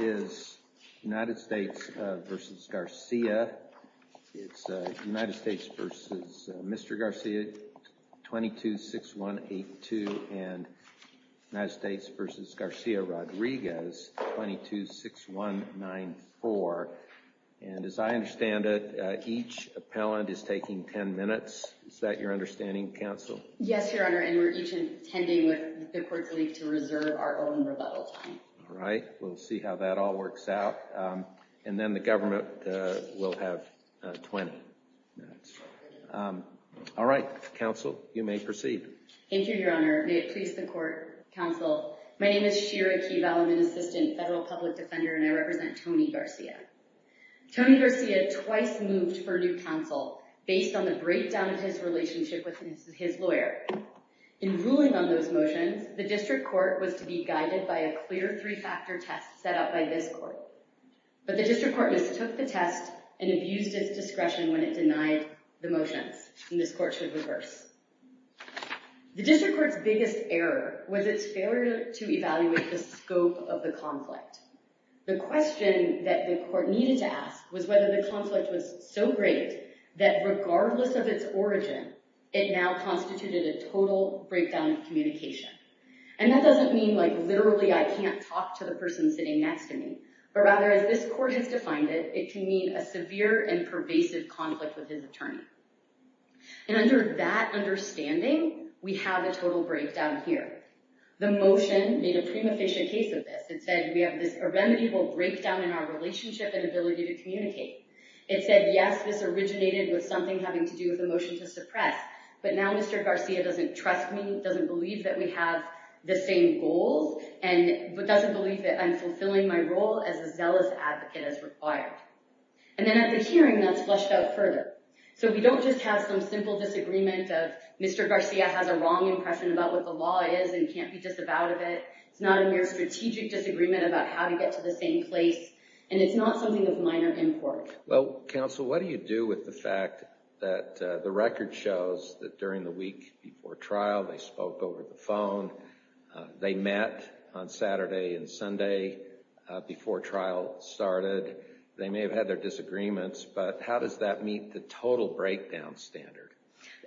It's United States v. Mr. Garcia 226182 and United States v. Garcia Rodriguez 226194. And as I understand it, each appellant is taking 10 minutes. Is that your understanding, counsel? Yes, Your Honor. And we're each intending with the court's leave to reserve our own rebuttal time. All right. We'll see how that all works out. And then the government will have 20 minutes. All right, counsel. You may proceed. Thank you, Your Honor. May it please the court, counsel. My name is Shira Key-Valleman, assistant federal public defender. And I represent Tony Garcia. Tony Garcia twice moved for new counsel based on the breakdown of his relationship with his lawyer. In ruling on those motions, the district court was to be guided by a clear three-factor test set up by this court. But the district court mistook the test and abused its discretion when it denied the motions. And this court should reverse. The district court's biggest error was its failure to evaluate the scope of the conflict. The question that the court needed to ask was whether the conflict was so great that regardless of its origin, it now constituted a total breakdown of communication. And that doesn't mean literally I can't talk to the person sitting next to me. But rather, as this court has defined it, it can mean a severe and pervasive conflict with his attorney. And under that understanding, we have a total breakdown here. The motion made a prima facie case of this. It said we have this irremediable breakdown in our relationship and ability to communicate. It said, yes, this originated with something having to do with a motion to suppress. But now Mr. Garcia doesn't trust me, doesn't believe that we have the same goals, and doesn't believe that I'm fulfilling my role as a zealous advocate as required. And then at the hearing, that's fleshed out further. So we don't just have some simple disagreement of Mr. Garcia has a wrong impression about what the law is and can't be disavowed of it. It's not a mere strategic disagreement about how to get to the same place. And it's not something of minor import. Well, counsel, what do you do with the fact that the record shows that during the week before trial, they spoke over the phone. They met on Saturday and Sunday before trial started. They may have had their disagreements. But how does that meet the total breakdown standard?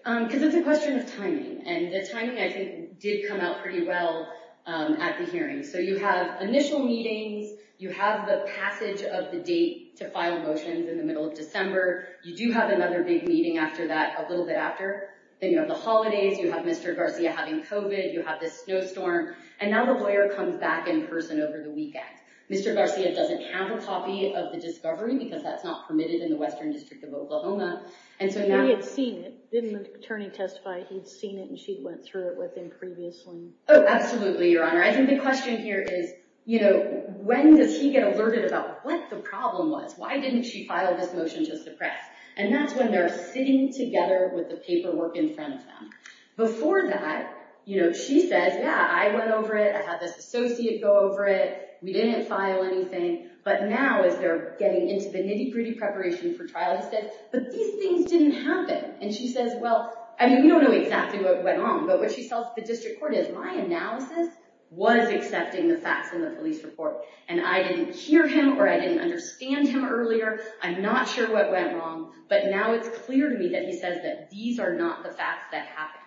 Because it's a question of timing. And the timing, I think, did come out pretty well at the hearing. So you have initial meetings. You have the passage of the date to file motions in the middle of December. You do have another big meeting after that, a little bit after. Then you have the holidays. You have Mr. Garcia having COVID. You have this snowstorm. And now the lawyer comes back in person over the weekend. Mr. Garcia doesn't have a copy of the discovery because that's not permitted in the Western District of Oklahoma. And so now- He had seen it. Didn't the attorney testify he'd seen it and she went through it with him previously? Oh, absolutely, Your Honor. I think the question here is, when does he get alerted about what the problem was? Why didn't she file this motion just to press? And that's when they're sitting together with the paperwork in front of them. Before that, she says, yeah, I went over it. I had this associate go over it. We didn't file anything. But now as they're getting into the nitty-gritty preparation for trial, he said, but these things didn't happen. And she says, well, I mean, we don't know exactly what went on. But what she tells the district court is, my analysis was accepting the facts in the police report. And I didn't hear him or I didn't understand him earlier. I'm not sure what went wrong. But now it's clear to me that he says that these are not the facts that happened.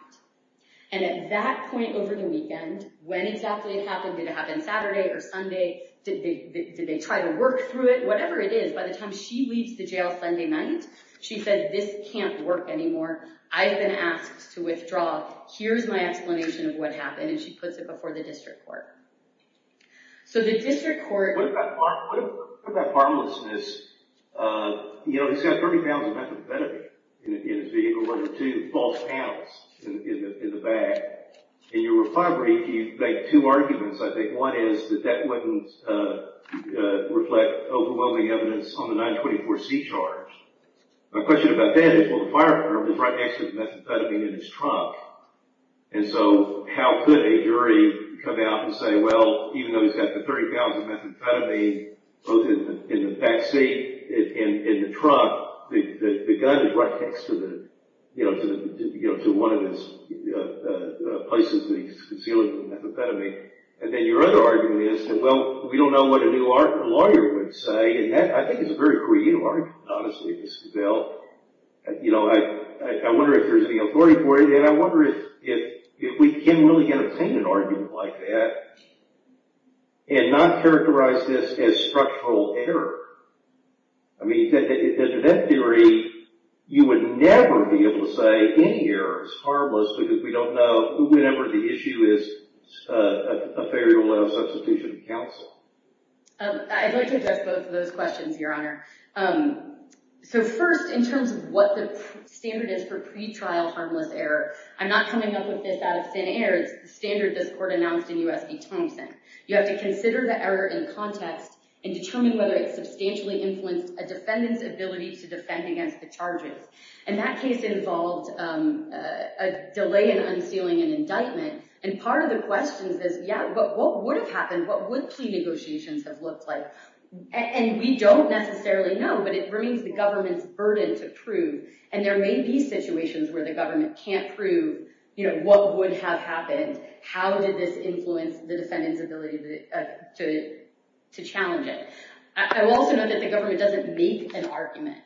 And at that point over the weekend, when exactly it happened, did it happen Saturday or Sunday? Did they try to work through it? Whatever it is, by the time she leaves the jail Sunday night, she said, this can't work anymore. I've been asked to withdraw. Here's my explanation of what happened. And she puts it before the district court. So the district court- What about harmlessness? You know, he's got 30 pounds of methamphetamine in his vehicle, with two false panels in the back. In your reply brief, you make two arguments, I think. One is that that wouldn't reflect overwhelming evidence on the 924C charge. My question about that is, well, the fire department is right next to the methamphetamine in his trunk. And so how could a jury come out and say, well, even though he's got the 30 pounds of methamphetamine both in the backseat and in the trunk, the gun is right next to the, you know, to one of the places that he's concealing the methamphetamine. And then your other argument is that, well, we don't know what a new lawyer would say. And that, I think, is a very creative argument, honestly, Mr. Bell. You know, I wonder if there's any authority for it. And I wonder if we can really entertain an argument like that, and not characterize this as structural error. I mean, to that degree, you would never be able to say any error is harmless because we don't know whenever the issue is a failure to allow substitution of counsel. I'd like to address both of those questions, Your Honor. So first, in terms of what the standard is for pretrial harmless error, I'm not coming up with this out of thin air. It's the standard this court announced in U.S. v. Thompson. You have to consider the error in context and determine whether it substantially influenced a defendant's ability to defend against the charges. And that case involved a delay in unsealing an indictment. And part of the question is this, yeah, but what would have happened? What would plea negotiations have looked like? And we don't necessarily know, but it remains the government's burden to prove. And there may be situations where the government can't prove what would have happened. How did this influence the defendant's ability to challenge it? I will also note that the government doesn't make an argument.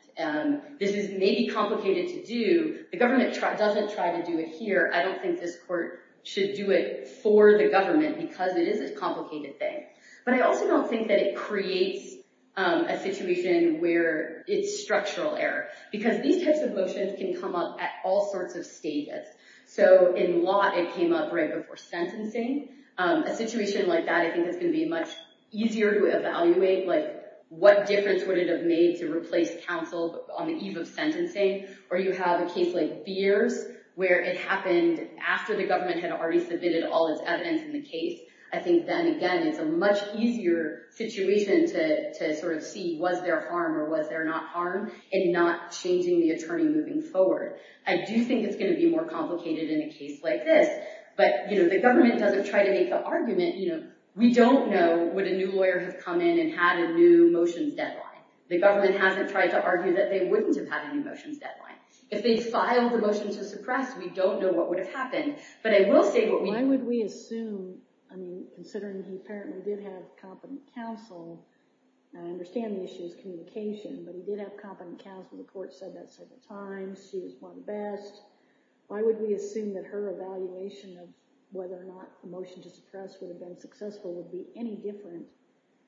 This is maybe complicated to do. The government doesn't try to do it here. I don't think this court should do it for the government because it is a complicated thing. But I also don't think that it creates a situation where it's structural error. Because these types of motions can come up at all sorts of stages. So in law, it came up right before sentencing. A situation like that, I think it's gonna be much easier to evaluate what difference would it have made to replace counsel on the eve of sentencing. Or you have a case like Beers, where it happened after the government had already submitted all its evidence in the case. I think then, again, it's a much easier situation to sort of see was there harm or was there not harm in not changing the attorney moving forward. I do think it's gonna be more complicated in a case like this. But the government doesn't try to make the argument. We don't know would a new lawyer have come in and had a new motions deadline. The government hasn't tried to argue that they wouldn't have had a new motions deadline. If they filed the motion to suppress, we don't know what would have happened. But I will say what we know. Considering he apparently did have competent counsel, I understand the issue is communication, but he did have competent counsel. The court said that several times. She was one of the best. Why would we assume that her evaluation of whether or not the motion to suppress would have been successful would be any different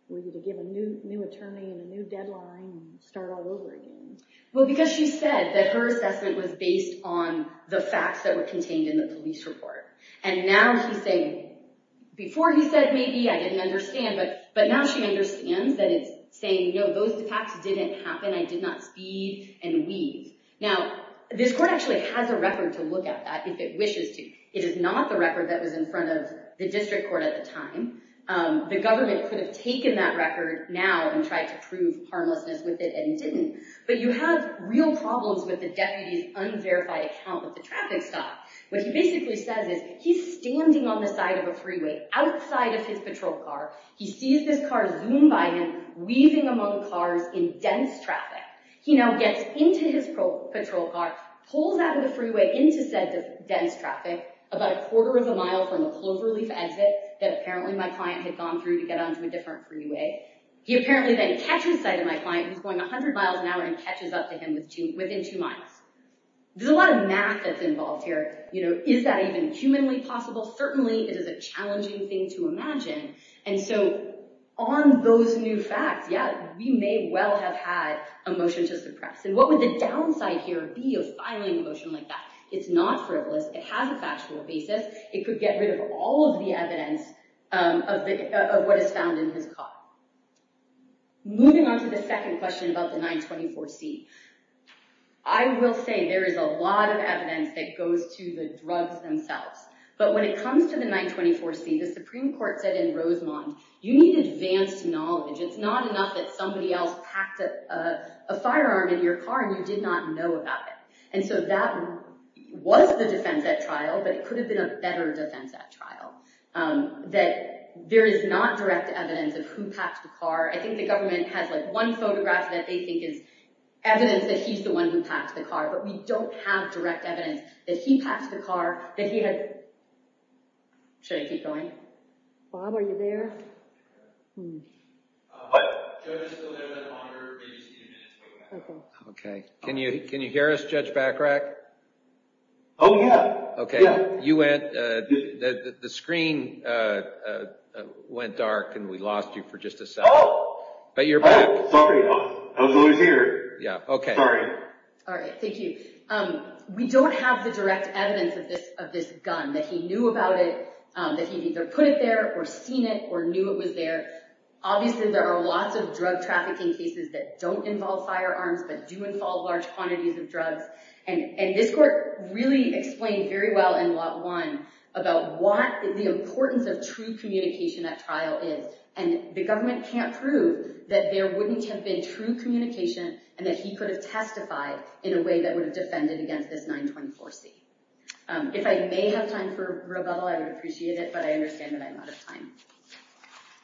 were you to give a new attorney and a new deadline and start all over again? Well, because she said that her assessment was based on the facts that were contained in the police report. And now she's saying, before he said maybe, I didn't understand, but now she understands that it's saying, no, those facts didn't happen. I did not speed and weave. Now, this court actually has a record to look at that if it wishes to. It is not the record that was in front of the district court at the time. The government could have taken that record now and tried to prove harmlessness with it and didn't. But you have real problems with the deputy's unverified account with the traffic stop. What he basically says is he's standing on the side of a freeway outside of his patrol car. He sees this car zoom by him weaving among cars in dense traffic. He now gets into his patrol car, pulls out of the freeway into said dense traffic, about a quarter of a mile from the cloverleaf exit that apparently my client had gone through to get onto a different freeway. He apparently then catches sight of my client who's going 100 miles an hour and catches up to him within two miles. There's a lot of math that's involved here. Is that even humanly possible? Certainly it is a challenging thing to imagine. And so on those new facts, yeah, we may well have had a motion to suppress. And what would the downside here be of filing a motion like that? It's not frivolous, it has a factual basis. It could get rid of all of the evidence of what is found in his car. Moving on to the second question about the 924C. I will say there is a lot of evidence that goes to the drugs themselves. But when it comes to the 924C, the Supreme Court said in Rosemont, you need advanced knowledge. It's not enough that somebody else packed a firearm in your car and you did not know about it. And so that was the defense at trial, but it could have been a better defense at trial. That there is not direct evidence of who packed the car. I think the government has like one photograph that they think is evidence that he's the one who packed the car, but we don't have direct evidence that he packed the car, that he had, should I keep going? Bob, are you there? What? Judge, still there with the monitor, maybe just give me a minute. Okay, can you hear us, Judge Bachrach? Oh yeah, yeah. Okay, you went, the screen went dark and we lost you for just a second. But you're back. Oh, sorry, I was always here. Yeah, okay. Sorry. All right, thank you. We don't have the direct evidence of this gun, that he knew about it, that he'd either put it there or seen it or knew it was there. Obviously there are lots of drug trafficking cases that don't involve firearms, but do involve large quantities of drugs. And this court really explained very well in lot one about what the importance of true communication at trial is. And the government can't prove that there wouldn't have been true communication and that he could have testified in a way that would have defended against this 924-C. If I may have time for rebuttal, I would appreciate it, but I understand that I'm out of time.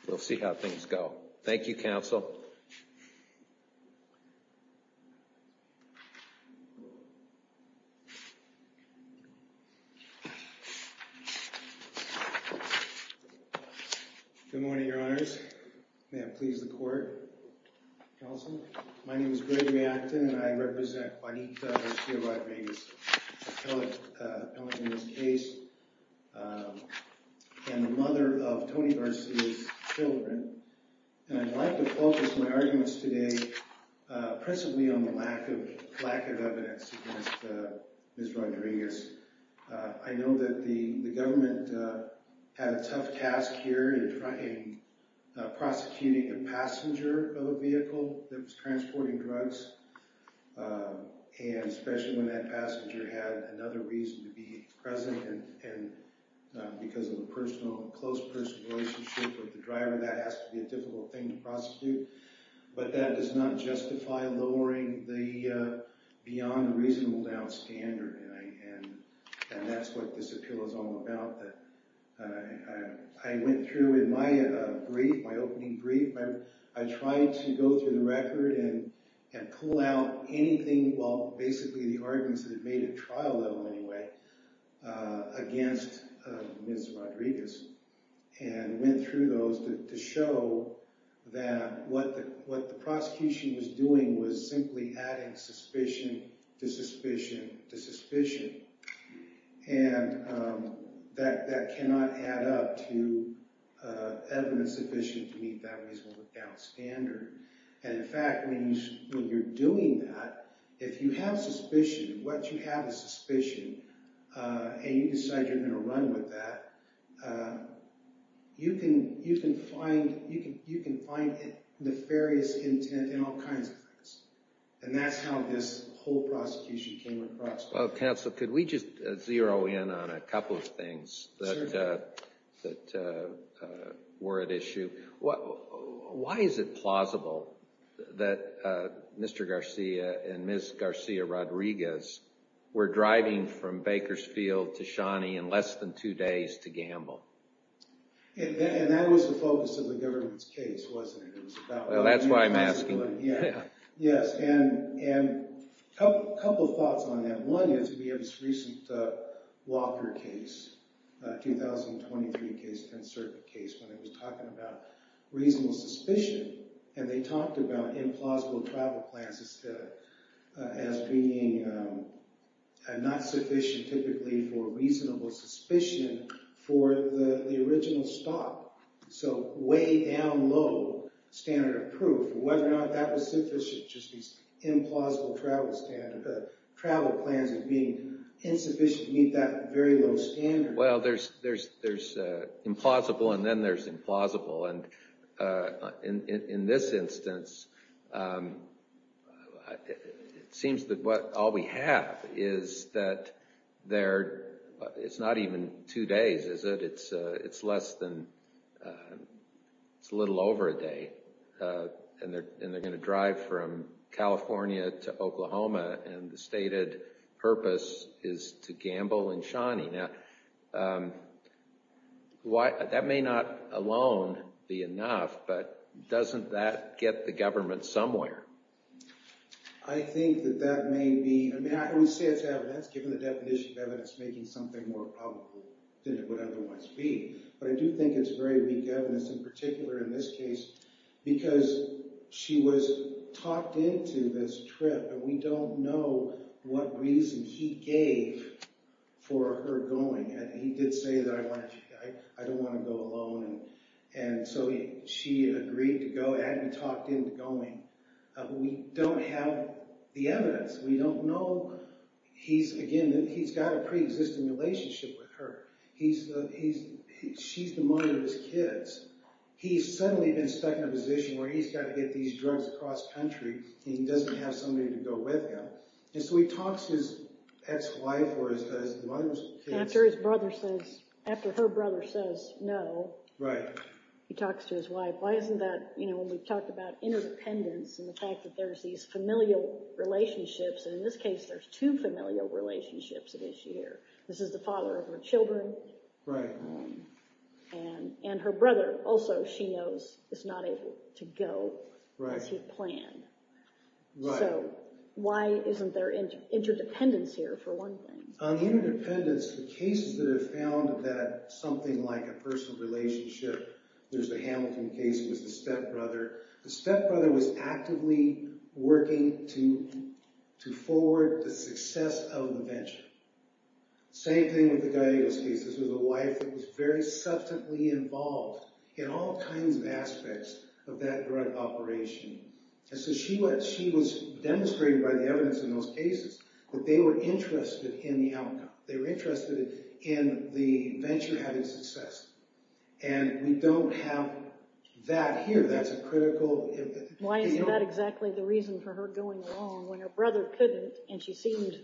We'll see how things go. Thank you, counsel. You're welcome. Good morning, your honors. May it please the court, counsel. My name is Gregory Acton and I represent Juanita Garcia Rodriguez, an appellate in this case, and the mother of Tony Garcia's children. And I'd like to focus my arguments today principally on the lack of evidence against Ms. Rodriguez. I know that the government had a tough task here in prosecuting a passenger of a vehicle that was transporting drugs, and especially when that passenger had another reason to be present and because of a close personal relationship with the driver, that has to be a difficult thing to prosecute, but that does not justify lowering the beyond reasonable doubt standard, and that's what this appeal is all about. I went through in my brief, my opening brief, I tried to go through the record and pull out anything, well, basically the arguments that had made it trial level anyway, against Ms. Rodriguez, and went through those to show that what the prosecution was doing was simply adding suspicion to suspicion to suspicion, and that cannot add up to evidence sufficient to meet that reasonable doubt standard. And in fact, when you're doing that, if you have suspicion, what you have is suspicion, and you decide you're gonna run with that, you can find nefarious intent in all kinds of things, and that's how this whole prosecution came across. Well, counsel, could we just zero in on a couple of things that were at issue? Why is it plausible that Mr. Garcia and Ms. Garcia Rodriguez were driving from Bakersfield to Shawnee in less than two days to gamble? And that was the focus of the government's case, wasn't it? That's why I'm asking. Yes, and a couple of thoughts on that. One is we have this recent Walker case, 2023 case, 10th Circuit case, when it was talking about reasonable suspicion, and they talked about implausible travel plans as being not sufficient, typically, for reasonable suspicion for the original stop, so way down low standard of proof, whether or not that was sufficient, just these implausible travel plans of being insufficient to meet that very low standard. Well, there's implausible, and then there's implausible, and in this instance, it seems that all we have is that they're, it's not even two days, is it? It's less than, it's a little over a day, and they're gonna drive from California to Oklahoma, and the stated purpose is to gamble in Shawnee. Now, that may not alone be enough, but doesn't that get the government somewhere? I think that that may be, I mean, I always say it's evidence, given the definition of evidence, making something more probable than it would otherwise be, but I do think it's very weak evidence, in particular in this case, because she was talked into this trip, but we don't know what reason he gave for her going, and he did say that I don't wanna go alone, and so she agreed to go, and he talked into going. We don't have the evidence. We don't know, he's, again, he's got a preexisting relationship with her. He's, she's the mother of his kids. He's suddenly been stuck in a position where he's gotta get these drugs across country, and he doesn't have somebody to go with him, and so he talks to his ex-wife, or his mother's kids. After his brother says, after her brother says no. Right. He talks to his wife. Why isn't that, you know, when we've talked about interdependence, and the fact that there's these familial relationships, and in this case, there's two familial relationships at issue here. This is the father of her children. Right. And her brother also, she knows, is not able to go as he planned. Right. So why isn't there interdependence here, for one thing? On interdependence, the cases that have found that something like a personal relationship, there's the Hamilton case, it was the stepbrother. The stepbrother was actively working to forward the success of the venture. Same thing with the Gallegos case. This was a wife that was very substantively involved in all kinds of aspects of that drug operation, and so she was demonstrated by the evidence in those cases that they were interested in the outcome. They were interested in the venture having success, and we don't have that here. That's a critical... Why isn't that exactly the reason for her going along when her brother couldn't, and she seemed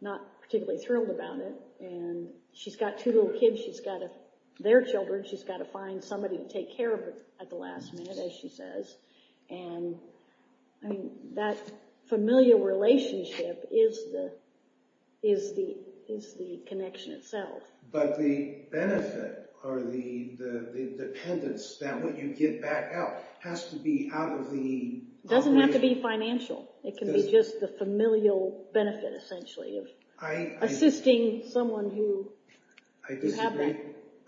not particularly thrilled about it, and she's got two little kids. She's got their children. She's got to find somebody to take care of her at the last minute, as she says, and that familial relationship is the connection itself. But the benefit or the dependence that when you get back out has to be out of the... It doesn't have to be financial. It can be just the familial benefit, essentially, of assisting someone who... I disagree. You have that?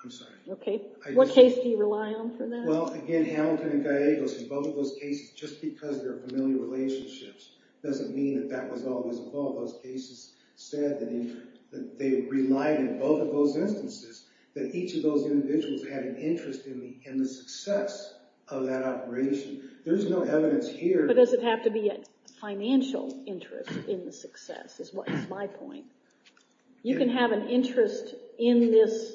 I'm sorry. Okay, what case do you rely on for that? Well, again, Hamilton and Gallegos, in both of those cases, just because they're familial relationships doesn't mean that that was always involved. All of those cases said that they relied in both of those instances that each of those individuals had an interest in the success of that operation. There's no evidence here... But does it have to be a financial interest in the success, is my point. You can have an interest in this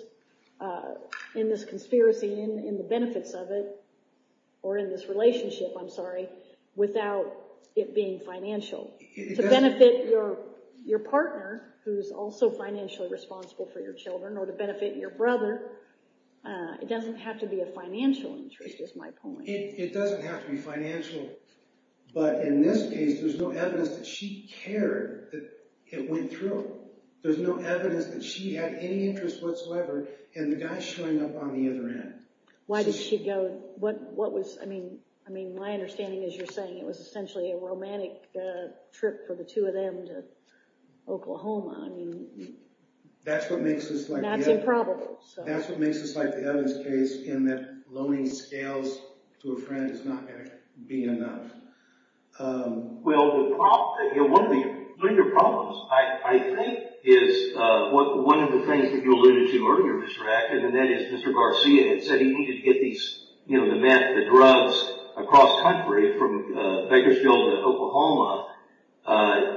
conspiracy, in the benefits of it, or in this relationship, I'm sorry, without it being financial. To benefit your partner, who's also financially responsible for your children, or to benefit your brother, it doesn't have to be a financial interest, is my point. It doesn't have to be financial, but in this case, there's no evidence that she cared that it went through. There's no evidence that she had any interest whatsoever, and the guy's showing up on the other end. Why did she go? What was, I mean, my understanding is you're saying it was essentially a romantic trip for the two of them to Oklahoma. I mean... That's what makes this like the Evans case in that loaning scales to a friend is not gonna be enough. Well, one of the bigger problems, I think, is one of the things that you alluded to earlier, Mr. Rackett, and that is Mr. Garcia had said he needed to get the drugs across country from Bakersfield to Oklahoma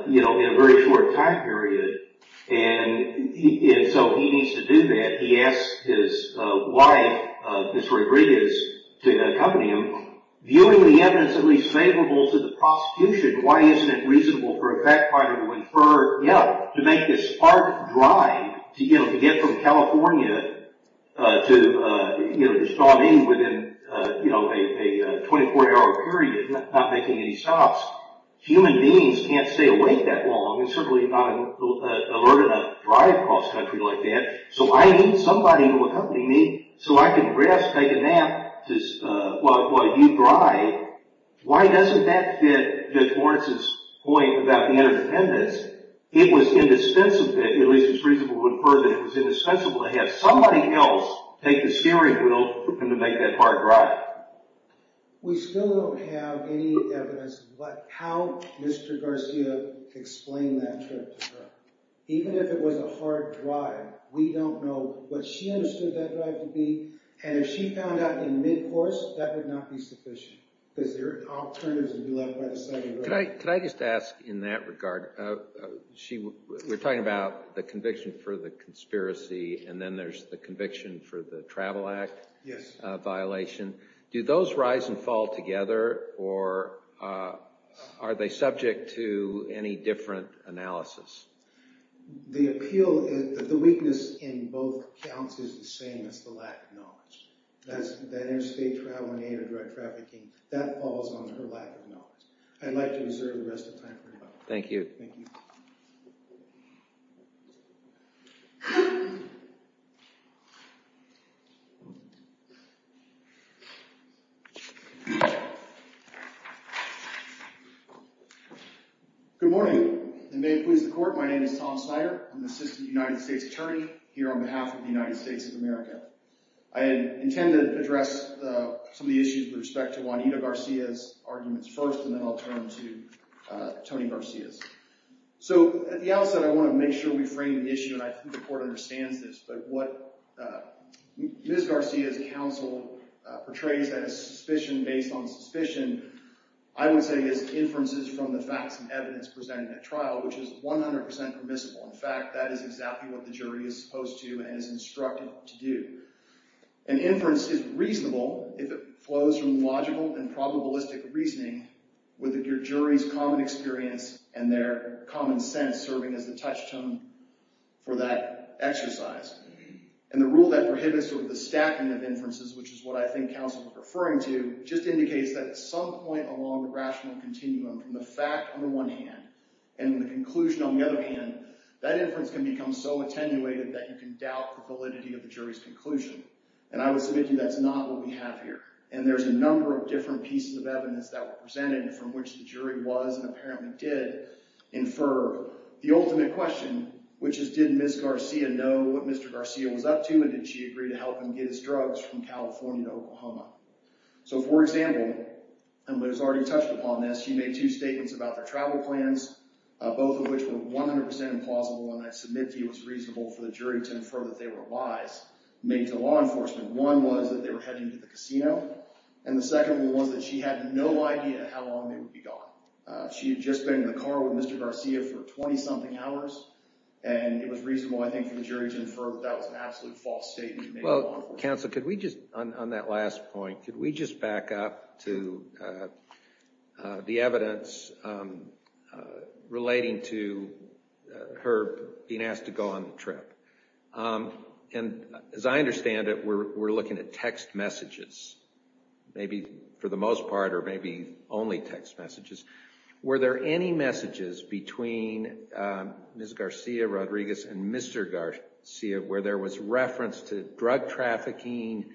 in a very short time period, and so he needs to do that. He asked his wife, Ms. Rodriguez, to accompany him, viewing the evidence at least favorable to the prosecution, why isn't it reasonable for a fact finder to infer, yeah, to make this hard drive to get from California to the strong end within a 24-hour period, not making any stops? Human beings can't stay awake that long and certainly not alert enough to drive across country like that, so I need somebody to accompany me so I can grasp, take a nap while you drive. Why doesn't that fit Judge Lawrence's point about the interdependence? It was indispensable, at least it's reasonable to infer that it was indispensable to have somebody else take the steering wheel and to make that hard drive. We still don't have any evidence about how Mr. Garcia explained that trip to her. Even if it was a hard drive, we don't know what she understood that drive to be, and if she found out in mid-course, that would not be sufficient, because there are alternatives and you left by the side of the road. Could I just ask in that regard, we're talking about the conviction for the conspiracy and then there's the conviction for the Travel Act violation. Do those rise and fall together or are they subject to any different analysis? The appeal, the weakness in both counts is the same as the lack of knowledge. That interstate travel and anti-drug trafficking, that falls on her lack of knowledge. I'd like to reserve the rest of the time for her. Thank you. Good morning, and may it please the court, my name is Tom Snyder. I'm the Assistant United States Attorney here on behalf of the United States of America. I intend to address some of the issues with respect to Juanita Garcia's arguments first and then I'll turn to Tony Garcia's. So at the outset, I want to make sure we frame the issue and I think the court understands this, but what Ms. Garcia's counsel portrays as suspicion based on suspicion, I would say is inferences from the facts and evidence presented at trial, which is 100% permissible. In fact, that is exactly what the jury is supposed to and is instructed to do. An inference is reasonable if it flows from logical and probabilistic reasoning with your jury's common experience and their common sense serving as the touchstone for that exercise. And the rule that prohibits the stacking of inferences, which is what I think counsel is referring to, just indicates that at some point along the rational continuum from the fact on the one hand and the conclusion on the other hand, that inference can become so attenuated that you can doubt the validity of the jury's conclusion. And I would submit to you that's not what we have here. And there's a number of different pieces of evidence that were presented from which the jury was and apparently did infer the ultimate question, which is did Ms. Garcia know what Mr. Garcia was up to and did she agree to help him get his drugs from California to Oklahoma? So for example, and Liz already touched upon this, she made two statements about their travel plans, both of which were 100% implausible and I submit to you it was reasonable for the jury to infer that they were lies made to law enforcement. One was that they were heading to the casino. And the second one was that she had no idea how long they would be gone. She had just been in the car with Mr. Garcia for 20-something hours. And it was reasonable, I think, for the jury to infer that that was an absolute false statement made by law enforcement. Counsel, could we just, on that last point, could we just back up to the evidence relating to her being asked to go on the trip? And as I understand it, we're looking at text messages, maybe for the most part or maybe only text messages. Were there any messages between Ms. Garcia, Rodriguez, and Mr. Garcia where there was reference to drug trafficking,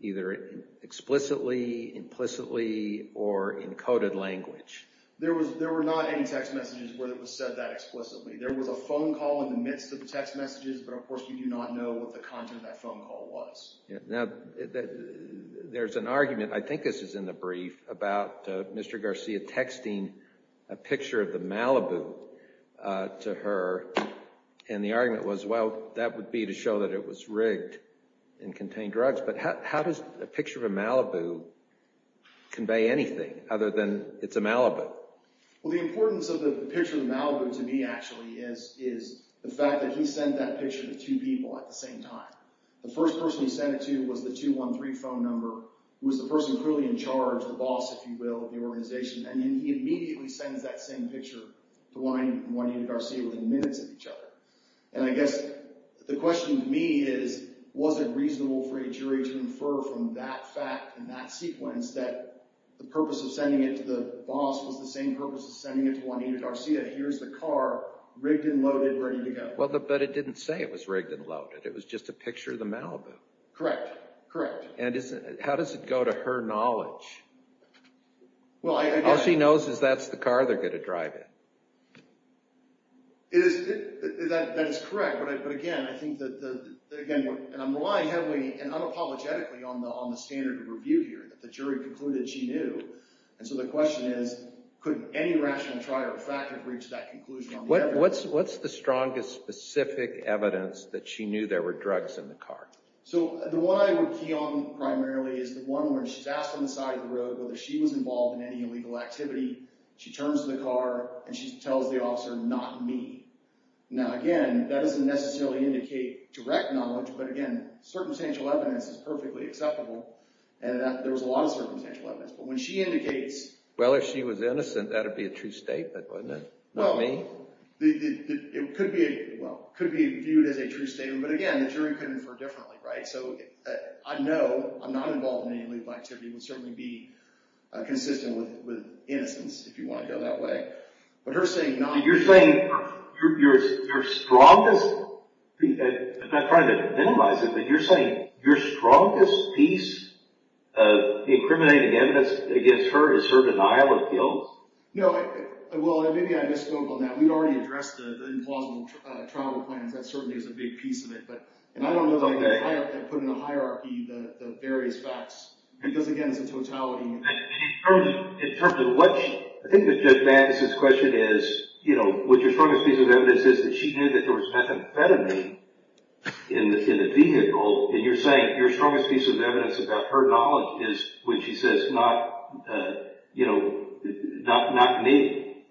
either explicitly, implicitly, or in coded language? There were not any text messages where it was said that explicitly. There was a phone call in the midst of the text messages. But of course, we do not know what the content of that phone call was. Now, there's an argument, I think this is in the brief, about Mr. Garcia texting a picture of the Malibu to her. And the argument was, well, that would be to show that it was rigged and contained drugs. But how does a picture of a Malibu convey anything other than it's a Malibu? Well, the importance of the picture of the Malibu to me, actually, is the fact that he sent that picture to two people at the same time. The first person he sent it to was the 213 phone number. It was the person clearly in charge, the boss, if you will, of the organization. And he immediately sends that same picture to Juanita Garcia within minutes of each other. And I guess the question to me is, was it reasonable for a jury to infer from that fact and that sequence that the purpose of sending it to the boss was the same purpose of sending it to Juanita Garcia? Here's the car, rigged and loaded, ready to go. Well, but it didn't say it was rigged and loaded. It was just a picture of the Malibu. Correct. Correct. And how does it go to her knowledge? Well, I guess she knows that's the car they're going to drive it. That is correct. But again, I think that, again, and I'm relying heavily and unapologetically on the standard of review here, that the jury concluded she knew. And so the question is, could any rational try or fact have reached that conclusion on the evidence? What's the strongest specific evidence that she knew there were drugs in the car? So the one I would key on primarily is the one where she's asked on the side of the road whether she was involved in any illegal activity. She turns to the car, and she tells the officer, not me. Now, again, that doesn't necessarily indicate direct knowledge. But again, circumstantial evidence is perfectly acceptable. And there was a lot of circumstantial evidence. But when she indicates, well, if she was innocent, that would be a true statement, wouldn't it? Not me. It could be viewed as a true statement. But again, the jury could infer differently, right? So I know I'm not involved in any illegal activity. It would certainly be consistent with innocence if you want to go that way. But her saying not me. You're saying your strongest, I'm not trying to minimize it, but you're saying your strongest piece of incriminating evidence against her is her denial of guilt? No, well, maybe I misspoke on that. We've already addressed the implausible travel plans. That certainly is a big piece of it. And I don't know that I put in a hierarchy the various facts. Because, again, it's a totality. In terms of what she, I think that Judge Magnus's question is, what your strongest piece of evidence is that she knew that there was methamphetamine in the vehicle. And you're saying your strongest piece of evidence about her knowledge is when she says, not me.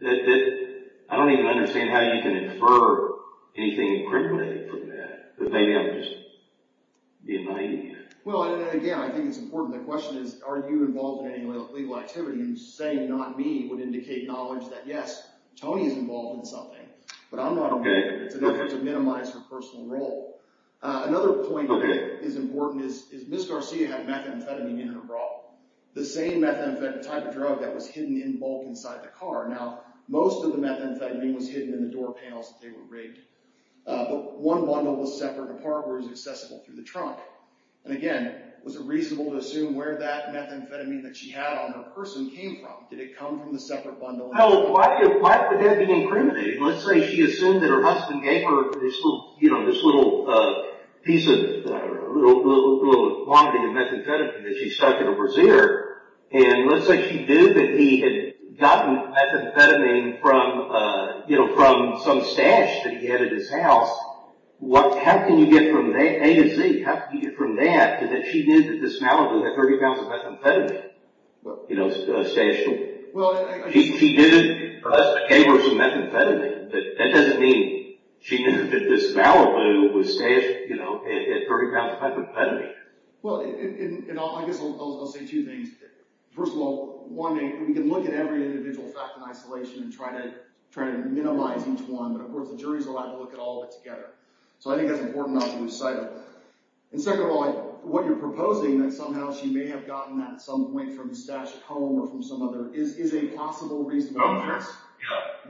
I don't even understand how you can infer anything incriminating from that. But maybe I'm just being naive. Well, and again, I think it's important. The question is, are you involved in any legal activity? And saying not me would indicate knowledge that, yes, Tony is involved in something. But I'm not involved. It's in order to minimize her personal role. Another point that is important is Ms. Garcia had methamphetamine in her bra. The same methamphetamine type of drug that was hidden in bulk inside the car. Now, most of the methamphetamine was hidden in the door panels that they were rigged. But one bundle was separate, a part where it was accessible through the trunk. And again, was it reasonable to assume where that methamphetamine that she had on her person came from? Did it come from the separate bundle? No, why is the dead being incriminated? Let's say she assumed that her husband gave her this little piece of quantity of methamphetamine that she stuck in a brassiere. And let's say she knew that he had gotten methamphetamine from some stash that he had at his house. How can you get from A to Z? How can you get from that to that she knew that this man would have 30 pounds of methamphetamine stashed away? She did, thus, gave her some methamphetamine. That doesn't mean she knew that this Malibu was stashed at 30 pounds of methamphetamine. Well, I guess I'll say two things. First of all, one, we can look at every individual fact in isolation and try to minimize each one. But of course, the jury's allowed to look at all of it together. So I think that's important not to lose sight of that. And second of all, what you're proposing, that somehow she may have gotten that at some point from the stash at home or from some other, is a possible reasonable inference.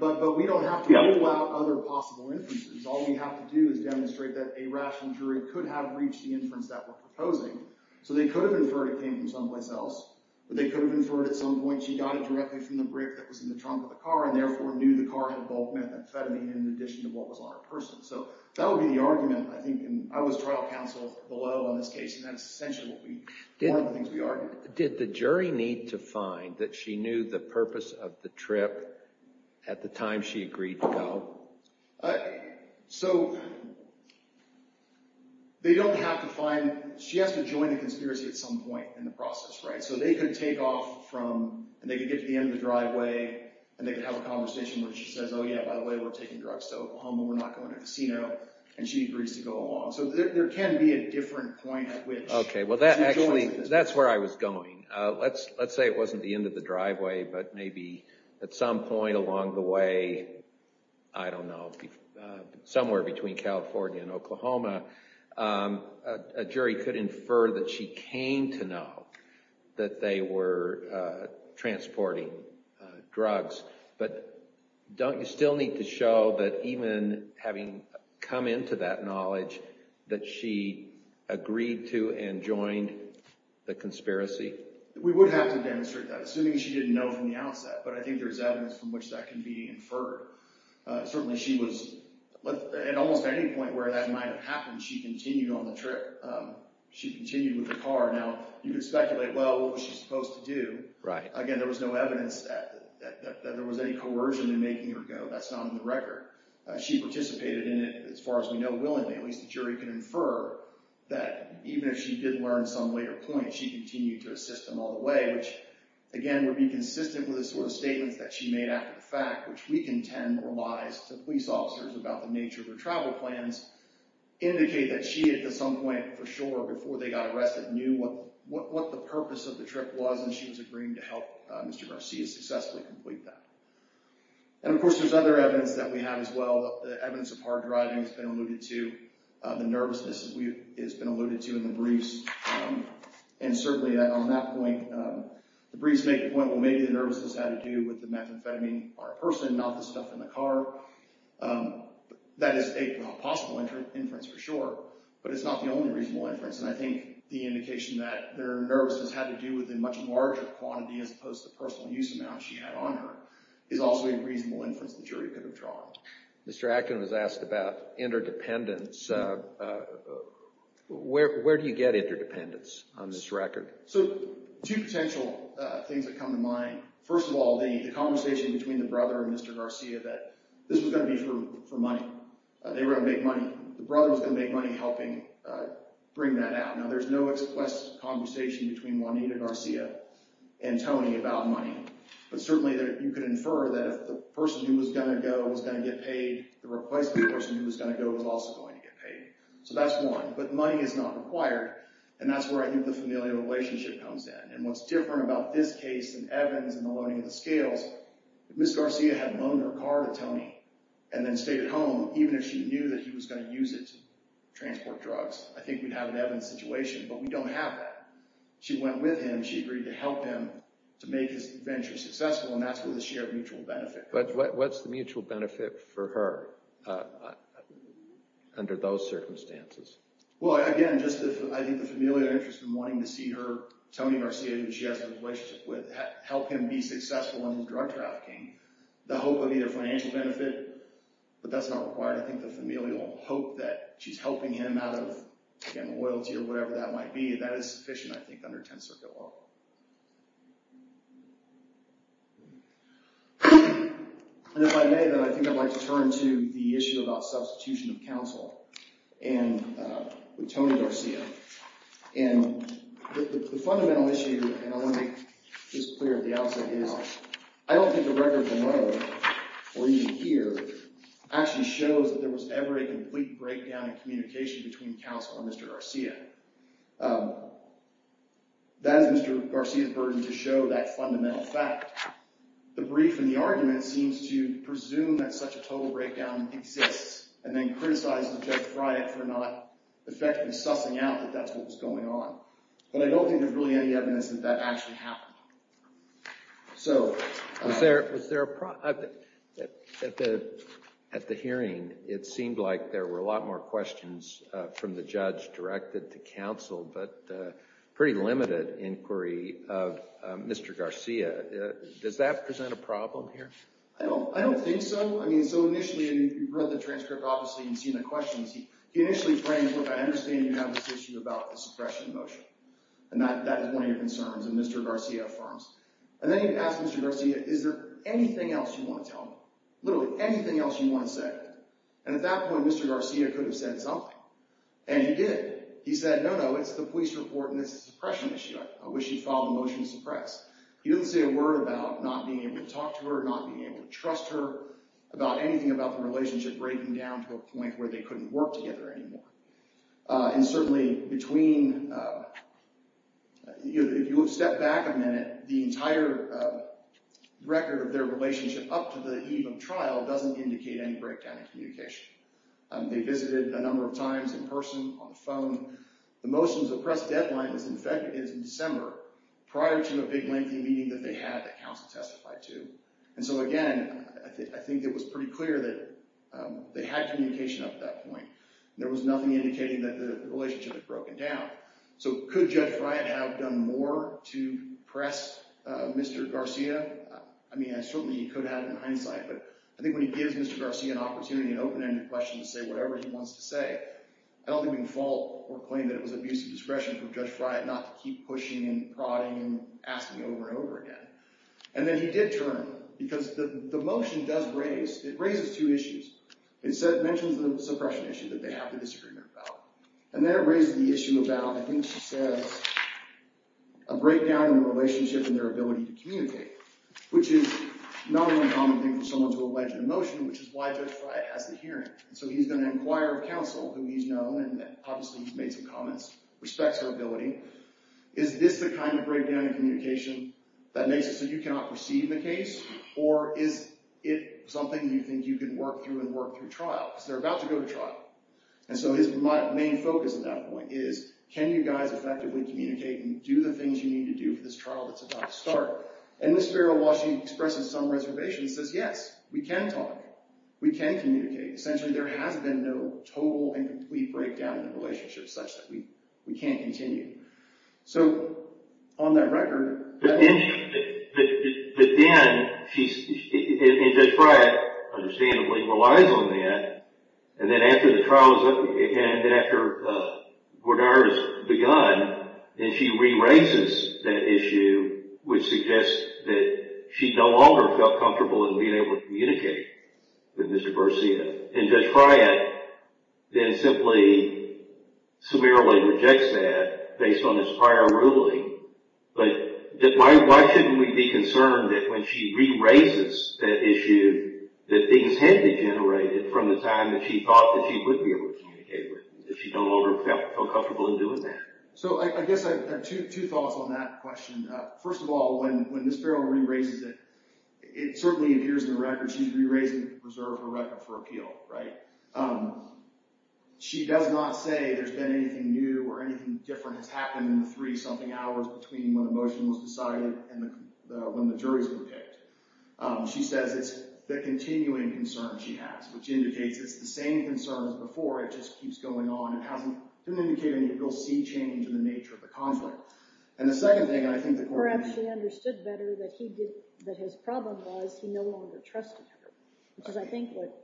But we don't have to rule out other possible inferences. All we have to do is demonstrate that a rational jury could have reached the inference that we're proposing. So they could have inferred it came from someplace else. But they could have inferred at some point she got it directly from the brick that was in the trunk of the car, and therefore, knew the car had bulk methamphetamine in addition to what was on her purse. So that would be the argument. I think I was trial counsel below on this case. And that's essentially one of the things we argued. Did the jury need to find that she knew the purpose of the trip at the time she agreed to go? So they don't have to find. She has to join the conspiracy at some point in the process. So they could take off from, and they could get to the end of the driveway. And they could have a conversation where she says, oh, yeah, by the way, we're taking drugs to Oklahoma. We're not going to a casino. And she agrees to go along. So there can be a different point at which. OK, well, that actually, that's where I was going. Let's say it wasn't the end of the driveway, but maybe at some point along the way, I don't know, somewhere between California and Oklahoma, a jury could infer that she came to know that they were transporting drugs. But don't you still need to show that even having come into that knowledge that she agreed to and joined the conspiracy? We would have to demonstrate that, assuming she didn't know from the outset. But I think there's evidence from which that can be inferred. Certainly, she was, at almost any point where that might have happened, she continued on the trip. She continued with the car. Now, you could speculate, well, what was she supposed to do? Again, there was no evidence that there was any coercion in making her go. That's not on the record. She participated in it, as far as we know, willingly. At least the jury can infer that even if she did learn at some later point, she continued to assist them all the way, which, again, would be consistent with the sort of statements that she made after the fact, which we contend were lies to police officers about the nature of her travel plans, indicate that she, at some point, for sure, before they got arrested, knew what the purpose of the trip was. And she was agreeing to help Mr. Garcia successfully complete that. And of course, there's other evidence that we have, as well, the evidence of hard driving has been alluded to, the nervousness has been alluded to in the briefs. And certainly, on that point, the briefs make the point, well, maybe the nervousness had to do with the methamphetamine or a person, not the stuff in the car. That is a possible inference, for sure. But it's not the only reasonable inference. And I think the indication that their nervousness had to do with a much larger quantity, as opposed to the personal use amount she had on her, is also a reasonable inference the jury could have drawn. Mr. Acton was asked about interdependence. Where do you get interdependence on this record? So two potential things that come to mind. First of all, the conversation between the brother and Mr. Garcia that this was going to be for money. They were going to make money. The brother was going to make money helping bring that out. Now, there's no express conversation between Juanita Garcia and Tony about money. But certainly, you could infer that if the person who was going to go was going to get paid, the replacement person who was going to go was also going to get paid. So that's one. But money is not required. And that's where I think the familial relationship comes in. And what's different about this case and Evans and the loaning of the scales, if Ms. Garcia had loaned her car to Tony and then stayed at home, even if she knew that he was going to use it to transport drugs, I think we'd have an Evans situation. But we don't have that. She went with him. She agreed to help him to make his venture successful. And that's with a shared mutual benefit. What's the mutual benefit for her under those circumstances? Well, again, just I think the familial interest in wanting to see her, Tony Garcia, who she has a relationship with, help him be successful in drug trafficking, the hope of either financial benefit, but that's not required. I think the familial hope that she's helping him out of, again, loyalty or whatever that might be, that is sufficient, I think, under 10th Circuit law. And if I may, then I think I'd like to turn to the issue about substitution of counsel and with Tony Garcia. And the fundamental issue, and I want to make this clear at the outset, is I don't think the record below, or even here, actually shows that there was ever a complete breakdown in communication between counsel and Mr. Garcia. That is Mr. Garcia's burden to show that fundamental fact. The brief and the argument seems to presume that such a total breakdown exists, and then criticize Judge Friant for not effectively sussing out that that's what was going on. But I don't think there's really any evidence that that actually happened. So was there a problem? At the hearing, it seemed like there were a lot more questions from the judge directed to counsel, but pretty limited inquiry of Mr. Garcia. Does that present a problem here? I don't think so. I mean, so initially, you've read the transcript, obviously, and seen the questions. He initially framed, look, I understand you have this issue about the suppression motion. And that is one of your concerns, and Mr. Garcia affirms. And then he asked Mr. Garcia, is there anything else you want to tell me? Literally, anything else you want to say? And at that point, Mr. Garcia could have said something. And he did. He said, no, no, it's the police report, and it's a suppression issue. I wish he'd filed a motion to suppress. He didn't say a word about not being able to talk to her, not being able to trust her, about anything about the relationship breaking down to a point where they couldn't work together anymore. And certainly, between, if you step back a minute, the entire record of their relationship up to the eve of trial doesn't indicate any breakdown in communication. They visited a number of times in person, on the phone. The motion to suppress deadline is in December, prior to a big, lengthy meeting that they had that counsel testified to. And so again, I think it was pretty clear that they had communication up to that point. There was nothing indicating that the relationship had broken down. So could Judge Bryant have done more to press Mr. Garcia? I mean, certainly he could have in hindsight. But I think when he gives Mr. Garcia an opportunity in an open-ended question to say whatever he wants to say, I don't think we can fault or claim that it was abuse of discretion from Judge Bryant not to keep pushing and prodding and asking over and over again. And then he did turn. Because the motion does raise, it raises two issues. It mentions the suppression issue that they have to disagree about. And then it raises the issue about, I think she says, a breakdown in the relationship and their ability to communicate, which is not an uncommon thing for someone to allege an emotion, which is why Judge Bryant has the hearing. So he's going to inquire of counsel, who he's known, and obviously he's made some comments, respects her ability. Is this the kind of breakdown in communication that makes it so you cannot proceed in the case? Or is it something you think you can work through and work through trial? Because they're about to go to trial. And so his main focus at that point is, can you guys effectively communicate and do the things you need to do for this trial that's about to start? And Ms. Farrell, while she expresses some reservation, says, yes, we can talk. We can communicate. Essentially, there has been no total and complete breakdown in the relationship such that we can't continue. So on that record, that is true. But then, she's, and Judge Bryant, understandably, relies on that. And then after the trial is up, and after Gordar has begun, and she re-raises that issue, which suggests that she no longer felt comfortable in being able to communicate with Mr. Garcia. And Judge Bryant then simply, severely rejects that based on this prior ruling. But why shouldn't we be concerned that when she re-raises that issue, that things had degenerated from the time that she thought that she would be able to communicate with him, that she no longer felt comfortable in doing that? So I guess I have two thoughts on that question. First of all, when Ms. Farrell re-raises it, it certainly appears in the record she's re-raising it to preserve her record for appeal, right? She does not say there's been anything new or anything different has happened in the three-something hours between when the motion was decided and when the juries were picked. She says it's the continuing concern she has, which indicates it's the same concern as before. It just keeps going on. It doesn't indicate any real sea change in the nature of the conflict. And the second thing, I think that Gordar actually understood better that his problem was he no longer trusted her, which is, I think, what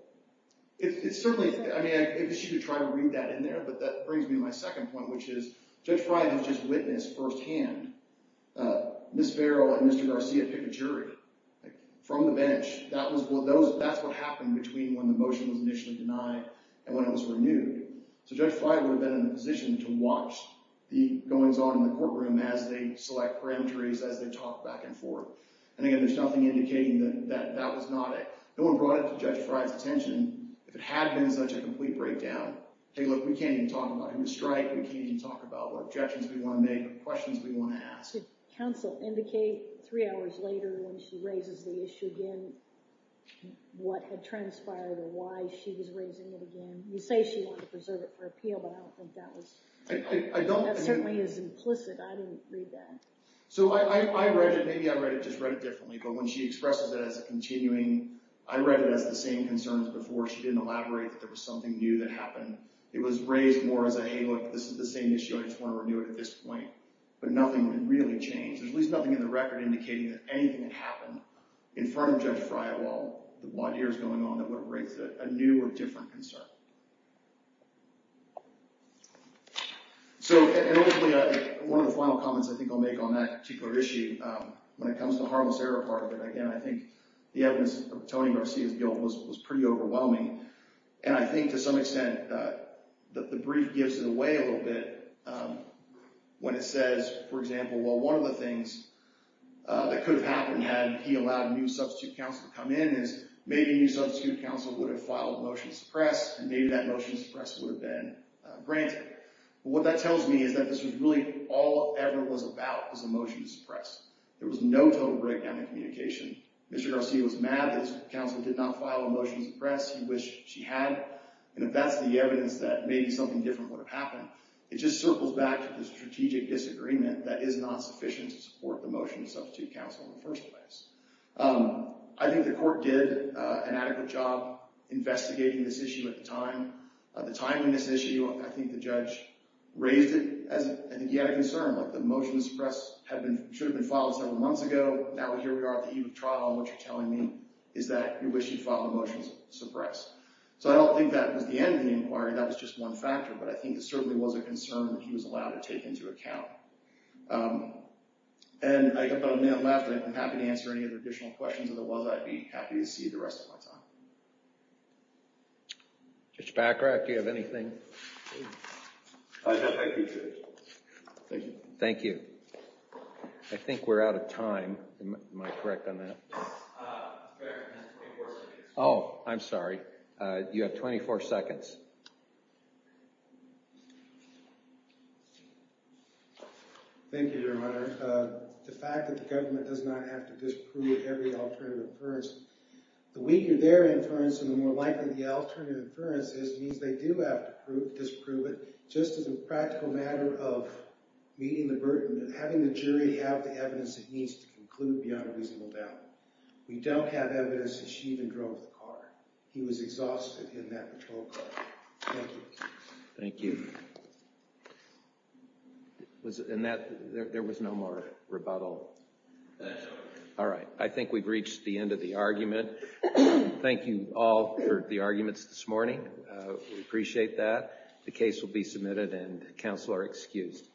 it's certainly, I mean, I guess you could try to read that in there. But that brings me to my second point, which is Judge Frye has just witnessed firsthand. Ms. Farrell and Mr. Garcia picked a jury from the bench. That's what happened between when the motion was initially denied and when it was renewed. So Judge Frye would have been in a position to watch the goings-on in the courtroom as they select parameteries, as they talk back and forth. And again, there's nothing indicating that that was not it. No one brought it to Judge Frye's attention. If it had been such a complete breakdown, hey, look, we can't even talk about human strike. We can't even talk about what objections we want to make or questions we want to ask. Did counsel indicate three hours later when she raises the issue again what had transpired or why she was raising it again? You say she wanted to preserve it for appeal, but I don't think that was taken into account. That certainly is implicit. I didn't read that. So I read it. Maybe I read it, just read it differently. But when she expresses it as a continuing, I read it as the same concerns before. She didn't elaborate that there was something new that happened. It was raised more as a, hey, look, this is the same issue. I just want to renew it at this point. But nothing really changed. There's at least nothing in the record indicating that anything had happened in front of Judge Frye while the blood here is going on that would have raised a new or different concern. So one of the final comments I think I'll make on that particular issue when it comes to the harmless error part of it, again, I think the evidence of Tony Garcia's guilt was pretty overwhelming. And I think to some extent that the brief gives it away a little bit when it says, for example, well, one of the things that could have happened had he allowed a new substitute counsel to come in is maybe a new substitute counsel would have filed a motion to suppress, and maybe that motion to suppress would have been granted. What that tells me is that this was really all it ever was about was a motion to suppress. There was no total breakdown in communication. Mr. Garcia was mad that his counsel did not file a motion to suppress. He wished she had. And if that's the evidence that maybe something different would have happened, it just circles back to the strategic disagreement that is not sufficient to support the motion to substitute counsel in the first place. I think the court did an adequate job investigating this issue at the time. At the time in this issue, I think the judge raised it as I think he had a concern. The motion to suppress should have been filed several months ago. Now here we are at the eve of trial, and what you're telling me is that you wish you'd filed a motion to suppress. So I don't think that was the end of the inquiry. That was just one factor. But I think it certainly was a concern that he was allowed to take into account. And I have about a minute left. I'm happy to answer any additional questions of the world. I'd be happy to see the rest of my time. Mr. Baccarat, do you have anything? I have my two minutes. Thank you. Thank you. I think we're out of time. Am I correct on that? Yes. You have 24 seconds. Oh, I'm sorry. You have 24 seconds. Thank you, Your Honor. The fact that the government does not have to disprove every alternative inference, the weaker their inference and the more likely the alternative inference is means they do have to disprove it. Just as a practical matter of meeting the burden, having the jury have the evidence it needs to conclude beyond a reasonable doubt. We don't have evidence that she even drove the car. He was exhausted in that patrol car. Thank you. Thank you. And there was no more rebuttal. All right, I think we've reached the end of the argument. Thank you all for the arguments this morning. We appreciate that. The case will be submitted and counsel are excused.